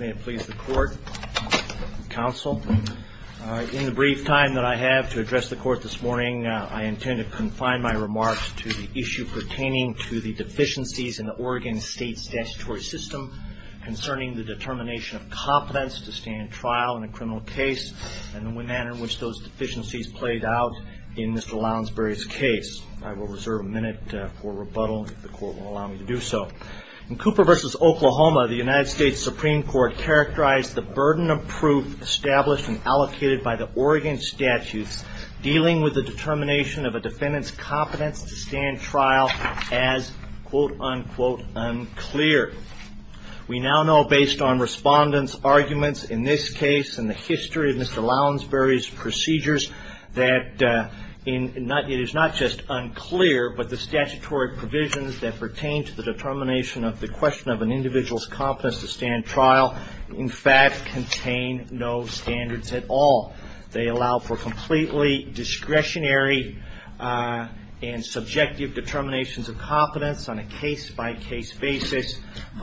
In the brief time that I have to address the court this morning, I intend to confine my remarks to the issue pertaining to the deficiencies in the Oregon State statutory system concerning the determination of competence to stand trial in a criminal case and the manner in which those deficiencies played out in Mr. Lounsbury's case. I will reserve a minute for rebuttal if the court will allow me to do so. In Cooper v. Oklahoma, the United States Supreme Court characterized the burden of proof established and allocated by the Oregon statutes dealing with the determination of a defendant's competence to stand trial as quote-unquote unclear. We now know based on respondents' arguments in this case and the history of Mr. Lounsbury's procedures that it is not just unclear, but the statutory provisions that pertain to the determination of the question of an individual's competence to stand trial in fact contain no standards at all. They allow for completely discretionary and subjective determinations of competence on a case-by-case basis. Wait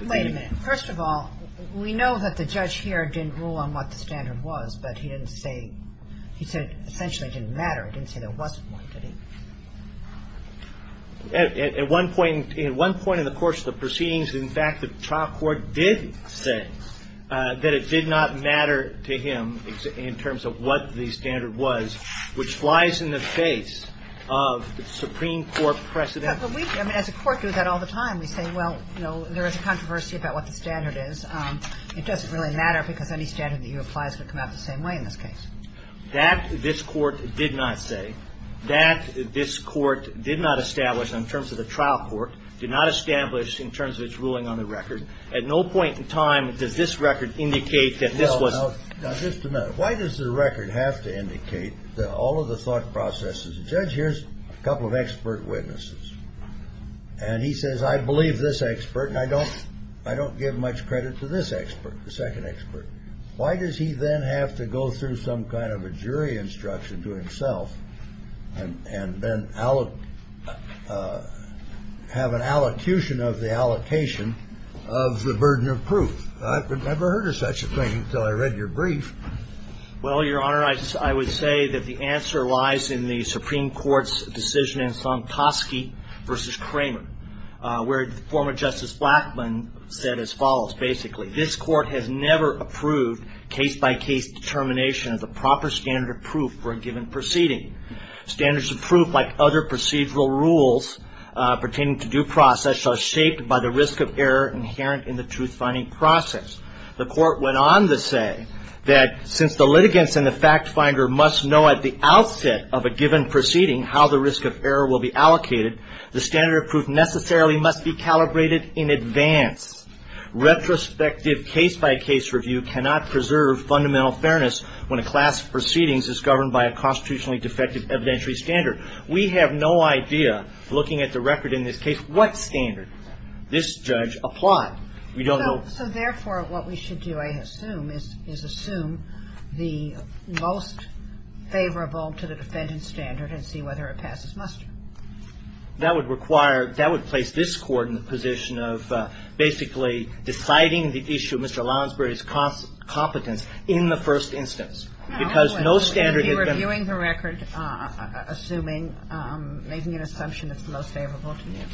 a minute. First of all, we know that the judge here didn't rule on what the standard was, but he said essentially it didn't matter. He didn't say there wasn't one, did he? At one point in the course of the proceedings, in fact, the trial court did say that it did not matter to him in terms of what the standard was, which flies in the face of the Supreme Court precedent. But we, I mean, as a court, do that all the time. We say, well, you know, there is a controversy about what the standard is. It doesn't really matter because any standard that you apply is going to come out the same way in this case. That this court did not say, that this court did not establish in terms of the trial court, did not establish in terms of its ruling on the record. At no point in time does this record indicate that this was — Now, just a minute. Why does the record have to indicate that all of the thought processes — the judge hears a couple of expert witnesses, and he says, I believe this expert and I don't give much credit to this expert, the second expert. Why does he then have to go through some kind of a jury instruction to himself and then have an allocution of the allocation of the burden of proof? I've never heard of such a thing until I read your brief. Well, Your Honor, I would say that the answer lies in the Supreme Court's decision in Sontoski v. Kramer, where former Justice Blackmun said as follows, basically, this court has never approved case-by-case determination of the proper standard of proof for a given proceeding. Standards of proof, like other procedural rules pertaining to due process, are shaped by the risk of error inherent in the truth-finding process. The court went on to say that since the litigants and the fact-finder must know at the outset of a given proceeding how the risk of error will be allocated, the standard of proof necessarily must be calibrated in advance. Retrospective case-by-case review cannot preserve fundamental fairness when a class of proceedings is governed by a constitutionally defective evidentiary standard. We have no idea, looking at the record in this case, what standard this judge applied. We don't know. So therefore, what we should do, I assume, is assume the most favorable to the defendant's standard and see whether it passes muster. That would require – that would place this Court in the position of basically deciding the issue of Mr. Lonsbury's competence in the first instance. Because no standard had been – You're reviewing the record, assuming – making an assumption that's the most favorable to you.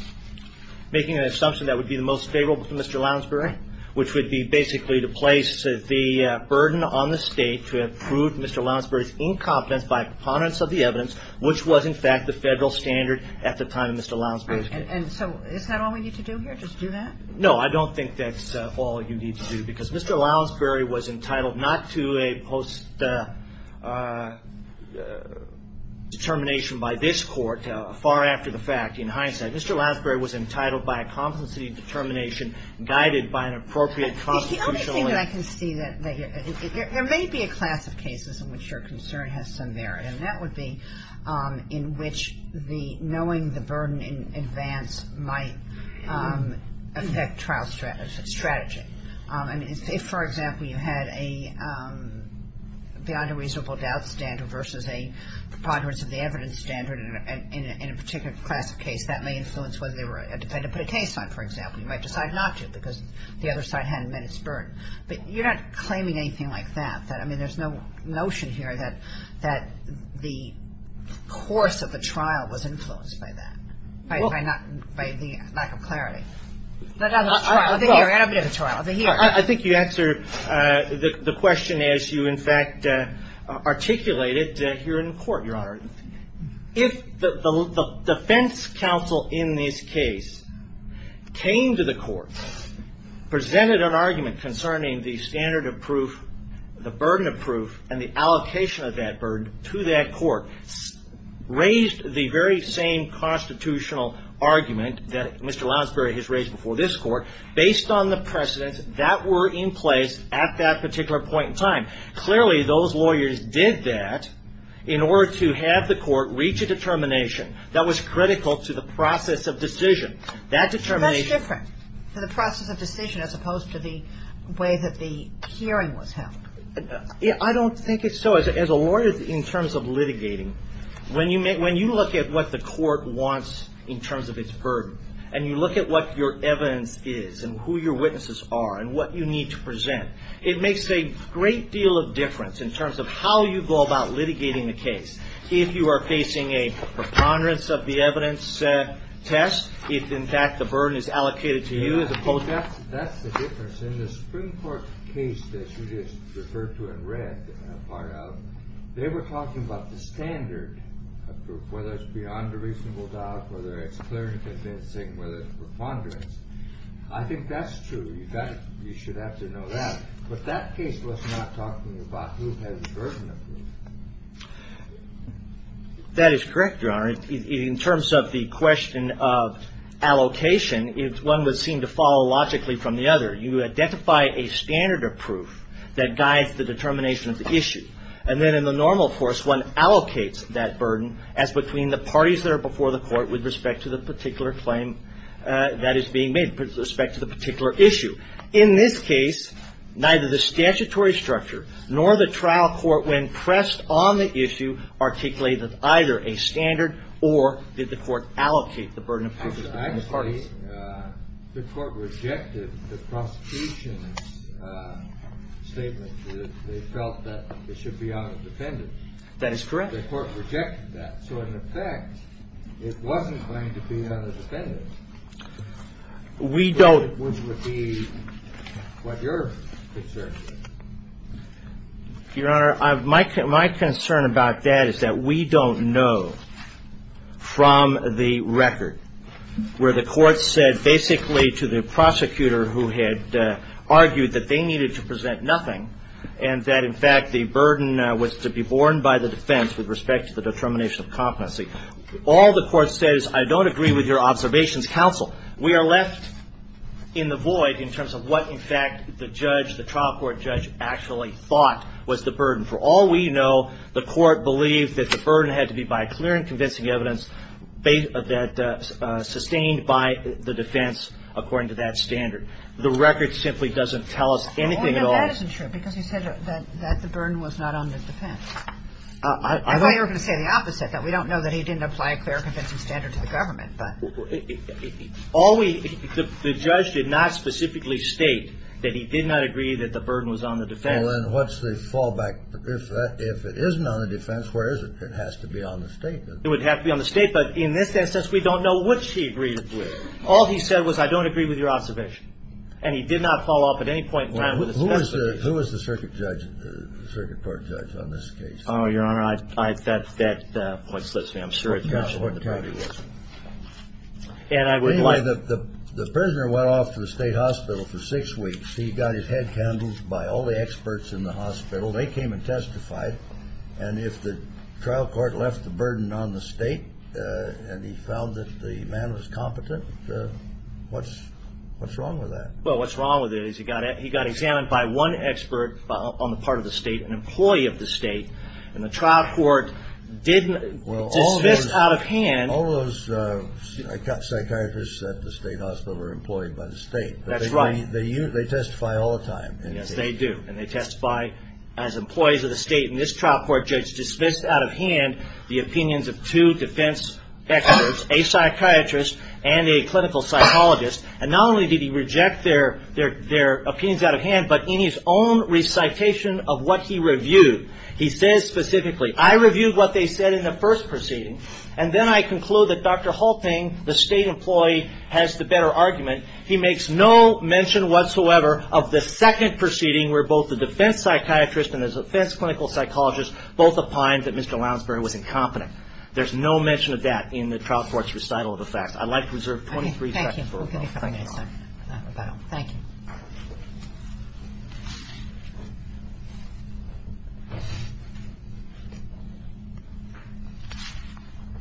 Making an assumption that would be the most favorable to Mr. Lonsbury, which would be basically to place the burden on the State to improve Mr. Lonsbury's incompetence by components of the evidence, which was, in fact, the Federal standard at the time of Mr. Lonsbury's case. Right. And so is that all we need to do here, just do that? No, I don't think that's all you need to do, because Mr. Lonsbury was entitled not to a post-determination by this Court, far after the fact, in hindsight. Mr. Lonsbury was entitled by a competency determination guided by an appropriate constitutional – The only thing that I can see that – there may be a class of cases in which your concern has some merit. And that would be in which the – knowing the burden in advance might affect trial strategy. I mean, if, for example, you had a beyond a reasonable doubt standard versus a preponderance of the evidence standard in a particular class of case, that may influence whether they were a defendant to put a case on, for example. You might decide not to, because the other side hadn't met its burden. But you're not claiming anything like that. I mean, there's no notion here that the course of the trial was influenced by that, by the lack of clarity. I think you answer the question as you, in fact, articulate it here in court, Your Honor. If the defense counsel in this case came to the court, presented an argument concerning the standard of proof, the burden of proof, and the allocation of that burden to that court, raised the very same constitutional argument that Mr. Lonsbury has raised before this Court, based on the precedents that were in place at that particular point in time. Clearly, those lawyers did that in order to have the court reach a determination that was critical to the process of decision. That determination… It's much different for the process of decision as opposed to the way that the hearing was held. I don't think it's so. As a lawyer, in terms of litigating, when you look at what the court wants in terms of its burden, and you look at what your evidence is, and who your witnesses are, and what you need to present, it makes a great deal of difference in terms of how you go about litigating the case. If you are facing a preponderance of the evidence test, if, in fact, the burden is allocated to you as opposed to… That's the difference. In the Supreme Court case that you just referred to and read a part of, they were talking about the standard of proof, whether it's beyond a reasonable doubt, whether it's clear and convincing, whether it's preponderance. I think that's true. You should have to know that. But that case was not talking about who has the burden of proof. That is correct, Your Honor. In terms of the question of allocation, one would seem to follow logically from the other. You identify a standard of proof that guides the determination of the issue. And then in the normal course, one allocates that burden as between the parties that are before the court with respect to the particular claim that is being made, with respect to the particular issue. In this case, neither the statutory structure nor the trial court, when pressed on the issue, articulated either a standard or did the court allocate the burden of proof to the parties. The court rejected the prosecution's statement that they felt that it should be on a defendant. That is correct. The court rejected that. So in effect, it wasn't going to be on a defendant. We don't. Which would be what your concern is. Your Honor, my concern about that is that we don't know from the record where the court said basically to the prosecutor who had argued that they needed to present nothing and that in fact the burden was to be borne by the defense with respect to the determination of competency. All the court says, I don't agree with your observations, counsel. We are left in the void in terms of what, in fact, the judge, the trial court judge actually thought was the burden. For all we know, the court believed that the burden had to be by clear and convincing evidence that sustained by the defense according to that standard. The record simply doesn't tell us anything at all. Well, that isn't true because you said that the burden was not on the defense. I thought you were going to say the opposite. We don't know that he didn't apply a clear, convincing standard to the government. The judge did not specifically state that he did not agree that the burden was on the defense. Well, then what's the fallback? If it isn't on the defense, where is it? It has to be on the statement. It would have to be on the statement. In this instance, we don't know which he agreed with. All he said was, I don't agree with your observation. And he did not fall off at any point. Who is the circuit court judge on this case? Your Honor, that point slips me. I'm sure it does. The prisoner went off to the state hospital for six weeks. He got his head handled by all the experts in the hospital. They came and testified. And if the trial court left the burden on the state and he found that the man was competent, what's wrong with that? Well, what's wrong with it is he got examined by one expert on the part of the state, an employee of the state. And the trial court dismissed out of hand. All those psychiatrists at the state hospital are employed by the state. That's right. They testify all the time. Yes, they do. And they testify as employees of the state. And this trial court judge dismissed out of hand the opinions of two defense experts, a psychiatrist and a clinical psychologist. And not only did he reject their opinions out of hand, but in his own recitation of what he reviewed, he says specifically, I reviewed what they said in the first proceeding, and then I conclude that Dr. Halting, the state employee, has the better argument. He makes no mention whatsoever of the second proceeding where both the defense psychiatrist and the defense clinical psychologist both opined that Mr. Lounsbury was incompetent. There's no mention of that in the trial court's recital of the facts. I'd like to reserve 23 seconds for rebuttal. Thank you. Thank you.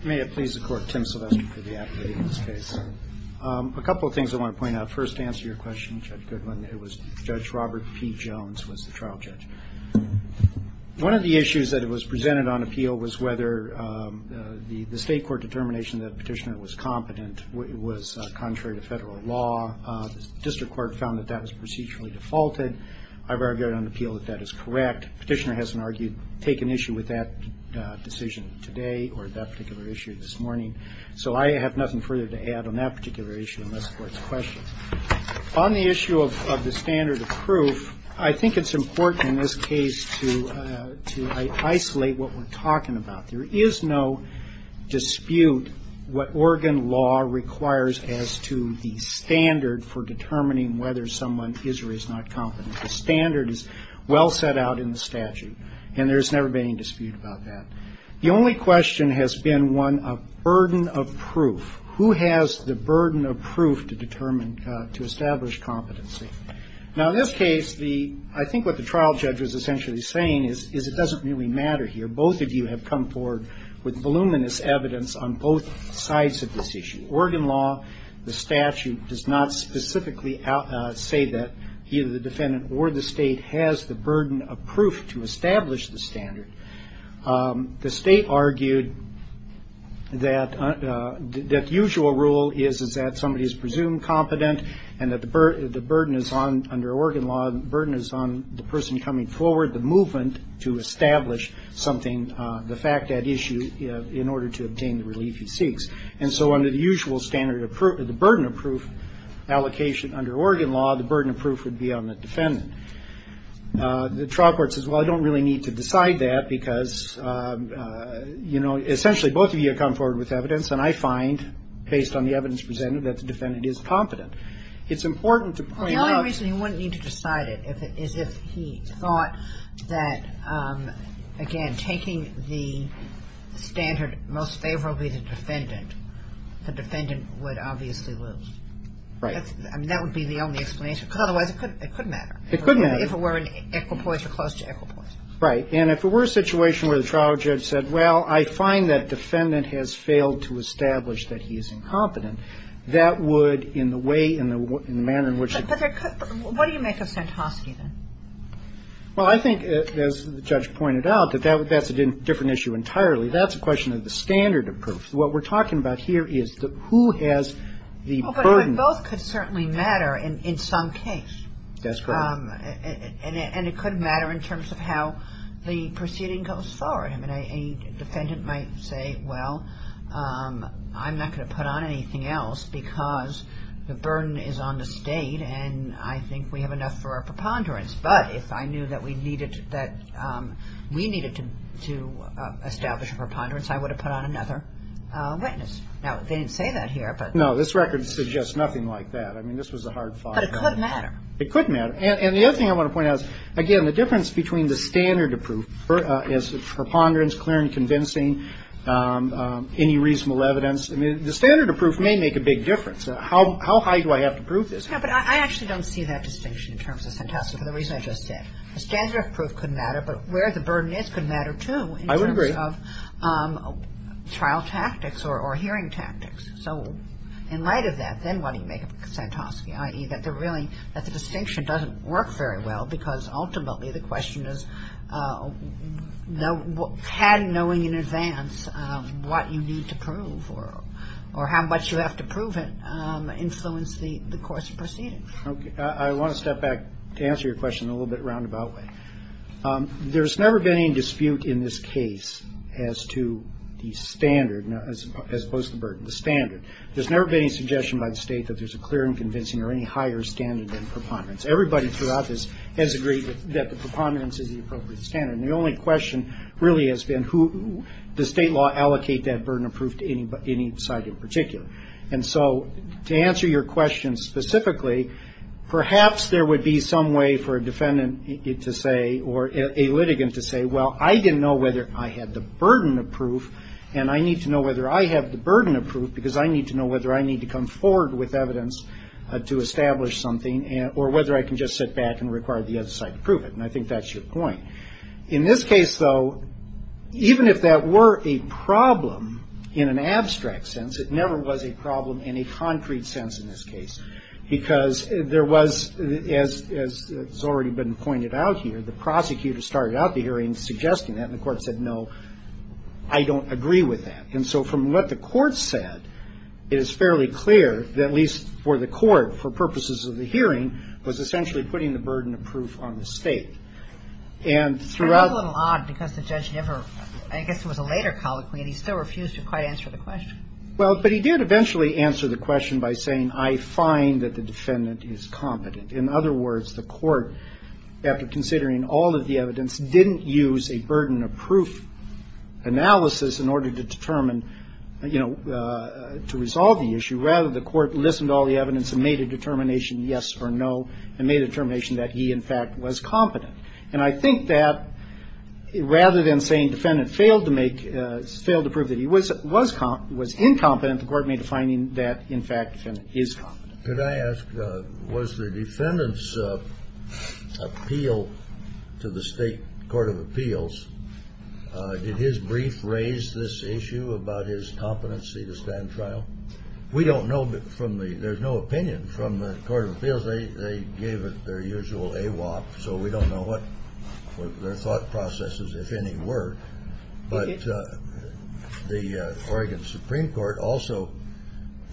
May it please the Court. Tim Silvestri for the appellate in this case. A couple of things I want to point out. First, to answer your question, Judge Goodwin, it was Judge Robert P. Jones was the trial judge. One of the issues that was presented on appeal was whether the state court determination that Petitioner was competent was contrary to federal law. The district court found that that was procedurally defaulted. I've argued on appeal that that is correct. Petitioner hasn't argued, taken issue with that decision today or that particular issue this morning. So I have nothing further to add on that particular issue unless the Court's questioned. On the issue of the standard of proof, I think it's important in this case to isolate what we're talking about. There is no dispute what Oregon law requires as to the standard for determining whether someone is or is not competent. The standard is well set out in the statute, and there's never been any dispute about that. The only question has been one of burden of proof. Who has the burden of proof to determine, to establish competency? Now, in this case, I think what the trial judge was essentially saying is it doesn't really matter here. Both of you have come forward with voluminous evidence on both sides of this issue. Oregon law, the statute, does not specifically say that either the defendant or the state has the burden of proof to establish the standard. The state argued that the usual rule is that somebody is presumed competent and that the burden is on, under Oregon law, the burden is on the person coming forward, the movement to establish something, the fact at issue, in order to obtain the relief he seeks. And so under the usual standard of proof, the burden of proof allocation under Oregon law, the burden of proof would be on the defendant. The trial court says, well, I don't really need to decide that because, you know, essentially both of you have come forward with evidence, and I find, based on the evidence presented, that the defendant is competent. It's important to point out. The only reason he wouldn't need to decide it is if he thought that, again, taking the standard most favorably of the defendant, the defendant would obviously lose. Right. I mean, that would be the only explanation, because otherwise it could matter. It could matter. If it were an equipoise or close to equipoise. Right. And if it were a situation where the trial judge said, well, I find that defendant has failed to establish that he is incompetent, that would, in the way, in the manner in which he could. But what do you make of Santosky, then? Well, I think, as the judge pointed out, that that's a different issue entirely. That's a question of the standard of proof. What we're talking about here is who has the burden. Well, but both could certainly matter in some case. That's correct. And it could matter in terms of how the proceeding goes forward. I mean, a defendant might say, well, I'm not going to put on anything else because the burden is on the State, and I think we have enough for a preponderance. But if I knew that we needed to establish a preponderance, I would have put on another witness. Now, they didn't say that here, but. No, this record suggests nothing like that. I mean, this was a hard file. But it could matter. It could matter. And the other thing I want to point out is, again, the difference between the standard of proof is preponderance, clear and convincing, any reasonable evidence. I mean, the standard of proof may make a big difference. How high do I have to prove this? Yeah, but I actually don't see that distinction in terms of Santosky for the reason I just said. The standard of proof could matter, but where the burden is could matter, too. I would agree. In terms of trial tactics or hearing tactics. So in light of that, then why do you make a Santosky? I.e., that the distinction doesn't work very well because ultimately the question is had knowing in advance what you need to prove or how much you have to prove it influence the course of proceedings. Okay. I want to step back to answer your question in a little bit of a roundabout way. There's never been any dispute in this case as to the standard, as opposed to the burden, the standard. There's never been any suggestion by the state that there's a clear and convincing or any higher standard than preponderance. Everybody throughout this has agreed that the preponderance is the appropriate standard. And the only question really has been who does state law allocate that burden of proof to any side in particular. And so to answer your question specifically, perhaps there would be some way for a defendant to say or a litigant to say, well, I didn't know whether I had the burden of proof, and I need to know whether I have the burden of proof because I need to know whether I need to come forward with evidence to establish something or whether I can just sit back and require the other side to prove it. And I think that's your point. In this case, though, even if that were a problem in an abstract sense, it never was a problem in a concrete sense in this case because there was, as has already been pointed out here, the prosecutor started out the hearing suggesting that, and the court said, no, I don't agree with that. And so from what the court said, it is fairly clear that, at least for the court, for purposes of the hearing, was essentially putting the burden of proof on the state. And throughout the court. And that's a little odd because the judge never, I guess it was a later colloquy, and he still refused to quite answer the question. Well, but he did eventually answer the question by saying, I find that the defendant is competent. In other words, the court, after considering all of the evidence, didn't use a burden of proof analysis in order to determine, you know, to resolve the issue. Rather, the court listened to all the evidence and made a determination, yes or no, and made a determination that he, in fact, was competent. And I think that rather than saying defendant failed to make, failed to prove that he was incompetent, the court made a finding that, in fact, defendant is competent. Could I ask, was the defendant's appeal to the state court of appeals, did his brief raise this issue about his competency to stand trial? We don't know from the, there's no opinion from the court of appeals. They gave it their usual AWOP, so we don't know what their thought processes, if any, were. But the Oregon Supreme Court also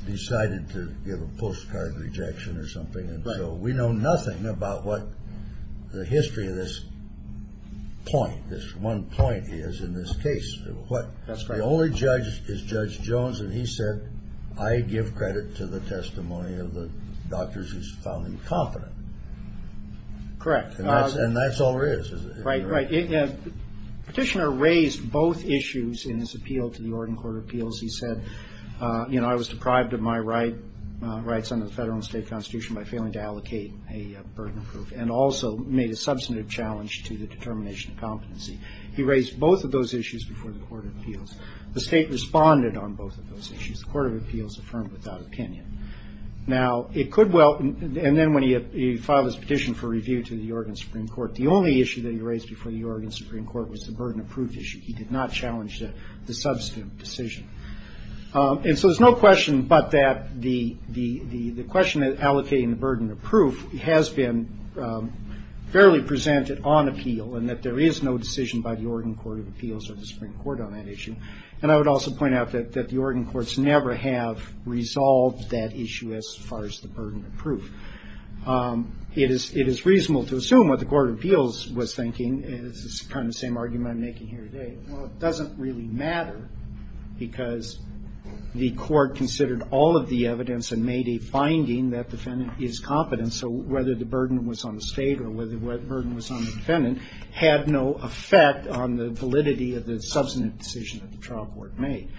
decided to give a postcard rejection or something, and so we know nothing about what the history of this point, this one point is in this case. That's right. The only judge is Judge Jones, and he said, I give credit to the testimony of the doctors who found him competent. Correct. And that's all there is. Right, right. Petitioner raised both issues in his appeal to the Oregon Court of Appeals. He said, you know, I was deprived of my rights under the federal and state constitution by failing to allocate a burden of proof, and also made a substantive challenge to the determination of competency. He raised both of those issues before the court of appeals. The state responded on both of those issues. The court of appeals affirmed without opinion. Now, it could well, and then when he filed his petition for review to the Oregon Supreme Court, the only issue that he raised before the Oregon Supreme Court was the burden of proof issue. He did not challenge the substantive decision. And so there's no question but that the question of allocating the burden of proof has been fairly presented on appeal, and that there is no decision by the Oregon Court of Appeals or the Supreme Court on that issue. And I would also point out that the Oregon courts never have resolved that issue as far as the burden of proof. It is reasonable to assume what the court of appeals was thinking, and this is kind of the same argument I'm making here today. Well, it doesn't really matter because the court considered all of the evidence and made a finding that defendant is competent, so whether the burden was on the state or whether the burden was on the defendant had no effect on the validity of the substantive decision that the trial court made.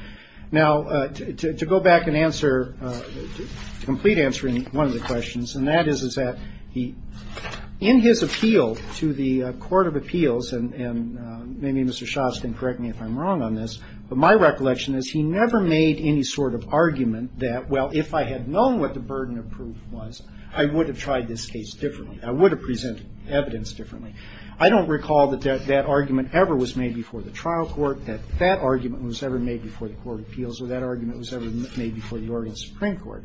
Now, to go back and answer, complete answering one of the questions, and that is that he, in his appeal to the court of appeals, and maybe Mr. Schatz can correct me if I'm wrong on this, but my recollection is he never made any sort of argument that, well, if I had known what the burden of proof was, I would have tried this case differently. I would have presented evidence differently. I don't recall that that argument ever was made before the trial court, that that argument was ever made before the court of appeals, or that argument was ever made before the Oregon Supreme Court.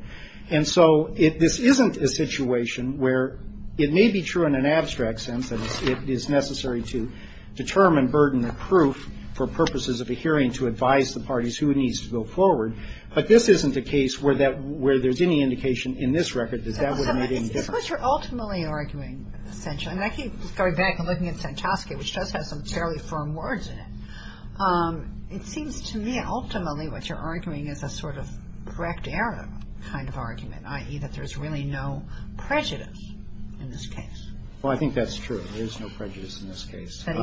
And so this isn't a situation where it may be true in an abstract sense, and it is necessary to determine burden of proof for purposes of a hearing to advise the parties who it needs to go forward, but this isn't a case where there's any indication in this record that that would have made any difference. Kagan. But you're ultimately arguing, essentially, and I keep going back and looking at Santoski, which does have some fairly firm words in it, it seems to me ultimately what you're arguing is a sort of correct error kind of argument, i.e., that there's really no prejudice in this case. Well, I think that's true. There is no prejudice in this case. That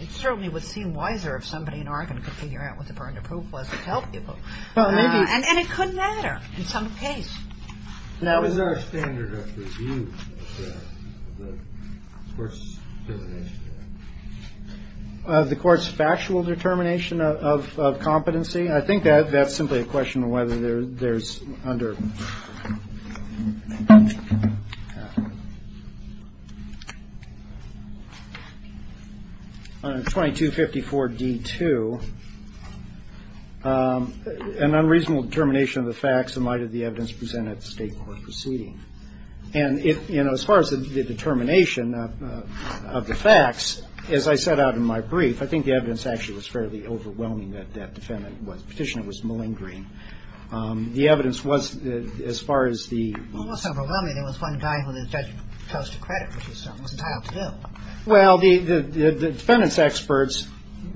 it certainly would seem wiser if somebody in Oregon could figure out what the burden of proof was to tell people. Well, maybe. And it could matter in some case. Is there a standard of review of the court's determination of that? The court's factual determination of competency? I think that's simply a question of whether there's under 2254 D2 an unreasonable determination of the facts in light of the evidence presented at the State court proceeding. And, you know, as far as the determination of the facts, as I set out in my brief, I think the evidence actually was fairly overwhelming that that defendant was petitioning, was malingering. The evidence was, as far as the ---- Well, it wasn't overwhelming. There was one guy who the judge chose to credit for this stuff. It wasn't tied up to him. Well, the defendant's experts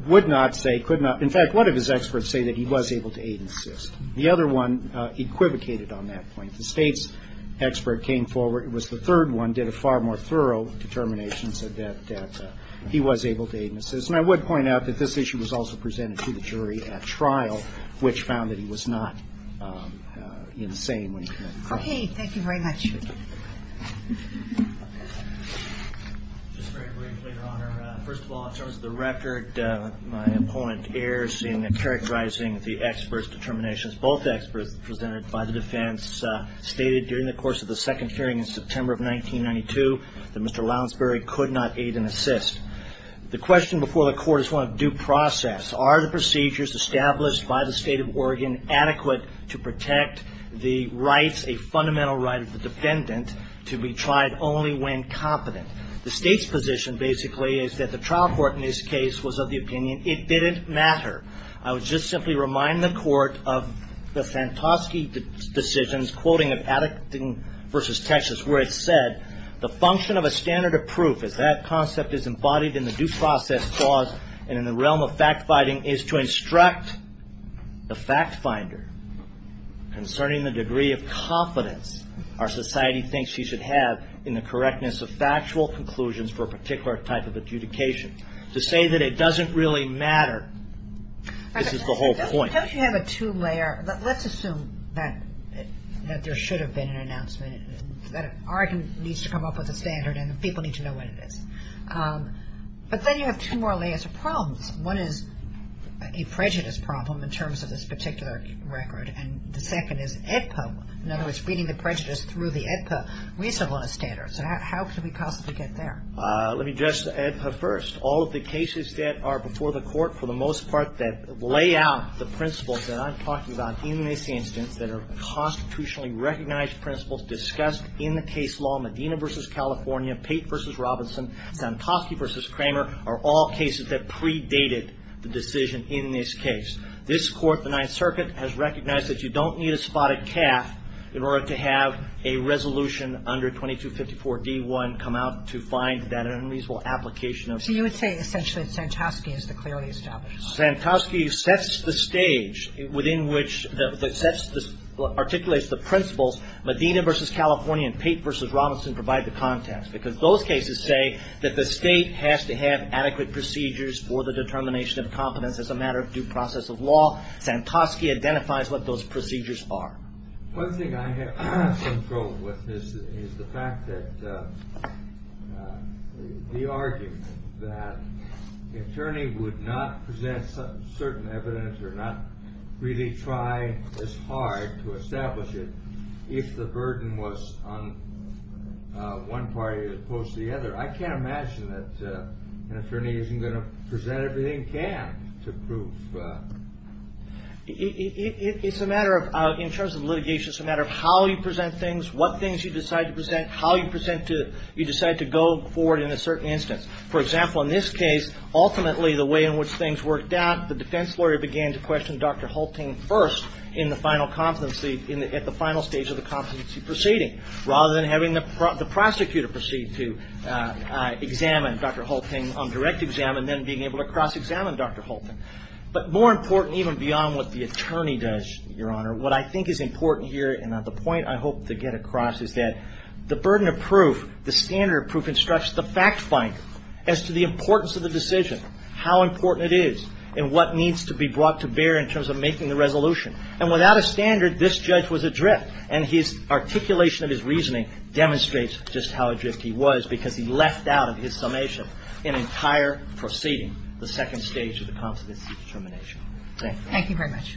would not say, could not. In fact, one of his experts say that he was able to aid and assist. The other one equivocated on that point. The State's expert came forward. It was the third one, did a far more thorough determination, said that he was able to aid and assist. And I would point out that this issue was also presented to the jury at trial, which found that he was not insane when he committed the crime. Thank you very much. Just very briefly, Your Honor, first of all, in terms of the record, my opponent errs in characterizing the experts' determinations. Both experts presented by the defense stated during the course of the second hearing in September of 1992 that Mr. Lowensbury could not aid and assist. The question before the Court is one of due process. Are the procedures established by the State of Oregon adequate to protect the rights, a fundamental right of the defendant, to be tried only when competent? The State's position, basically, is that the trial court in this case was of the opinion it didn't matter. I would just simply remind the Court of the Santosky decisions, quoting of Addicting v. Texas, where it said, the function of a standard of proof, as that concept is embodied in the due process clause and in the realm of fact-finding, is to instruct the fact-finder concerning the degree of confidence our society thinks she should have in the correctness of factual conclusions for a particular type of adjudication. To say that it doesn't really matter, this is the whole point. Don't you have a two-layer? Let's assume that there should have been an announcement, that Oregon needs to come up with a standard and people need to know what it is. But then you have two more layers of problems. One is a prejudice problem in terms of this particular record, and the second is AEDPA. In other words, reading the prejudice through the AEDPA, we still want a standard. So how can we possibly get there? Let me address the AEDPA first. All of the cases that are before the Court, for the most part, that lay out the principles that I'm talking about in this instance, that are constitutionally recognized principles discussed in the case law, Medina v. California, Pate v. Robinson, Santosky v. Kramer, are all cases that predated the decision in this case. This Court, the Ninth Circuit, has recognized that you don't need a spotted calf in order to have a resolution under 2254 D.I. come out to find that unreasonable application of the statute. So you would say essentially that Santosky is the clearly established one? Santosky sets the stage within which the – sets the – articulates the principles. Medina v. California and Pate v. Robinson provide the context, because those cases say that the State has to have adequate procedures for the determination of competence as a matter of due process of law. Santosky identifies what those procedures are. One thing I have some trouble with is the fact that – the argument that an attorney would not present certain evidence or not really try as hard to establish it if the burden was on one party as opposed to the other. I can't imagine that an attorney isn't going to present everything he can to prove – It's a matter of – in terms of litigation, it's a matter of how you present things, what things you decide to present, how you present to – you decide to go forward in a certain instance. For example, in this case, ultimately the way in which things worked out, the defense lawyer began to question Dr. Hulting first in the final competency – at the final stage of the competency proceeding rather than having the prosecutor proceed to examine Dr. Hulting on direct exam and then being able to cross-examine Dr. Hulting. But more important, even beyond what the attorney does, Your Honor, what I think is important here and the point I hope to get across is that the burden of proof, the standard of proof instructs the fact finder as to the importance of the decision, how important it is, and what needs to be brought to bear in terms of making the resolution. And without a standard, this judge was adrift, and his articulation of his reasoning demonstrates just how adrift he was because he left out of his summation an entire proceeding, the second stage of the competency determination. Thank you. Thank you very much.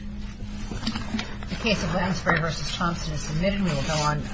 The case of Lansbury v. Thompson is submitted. We will go on now.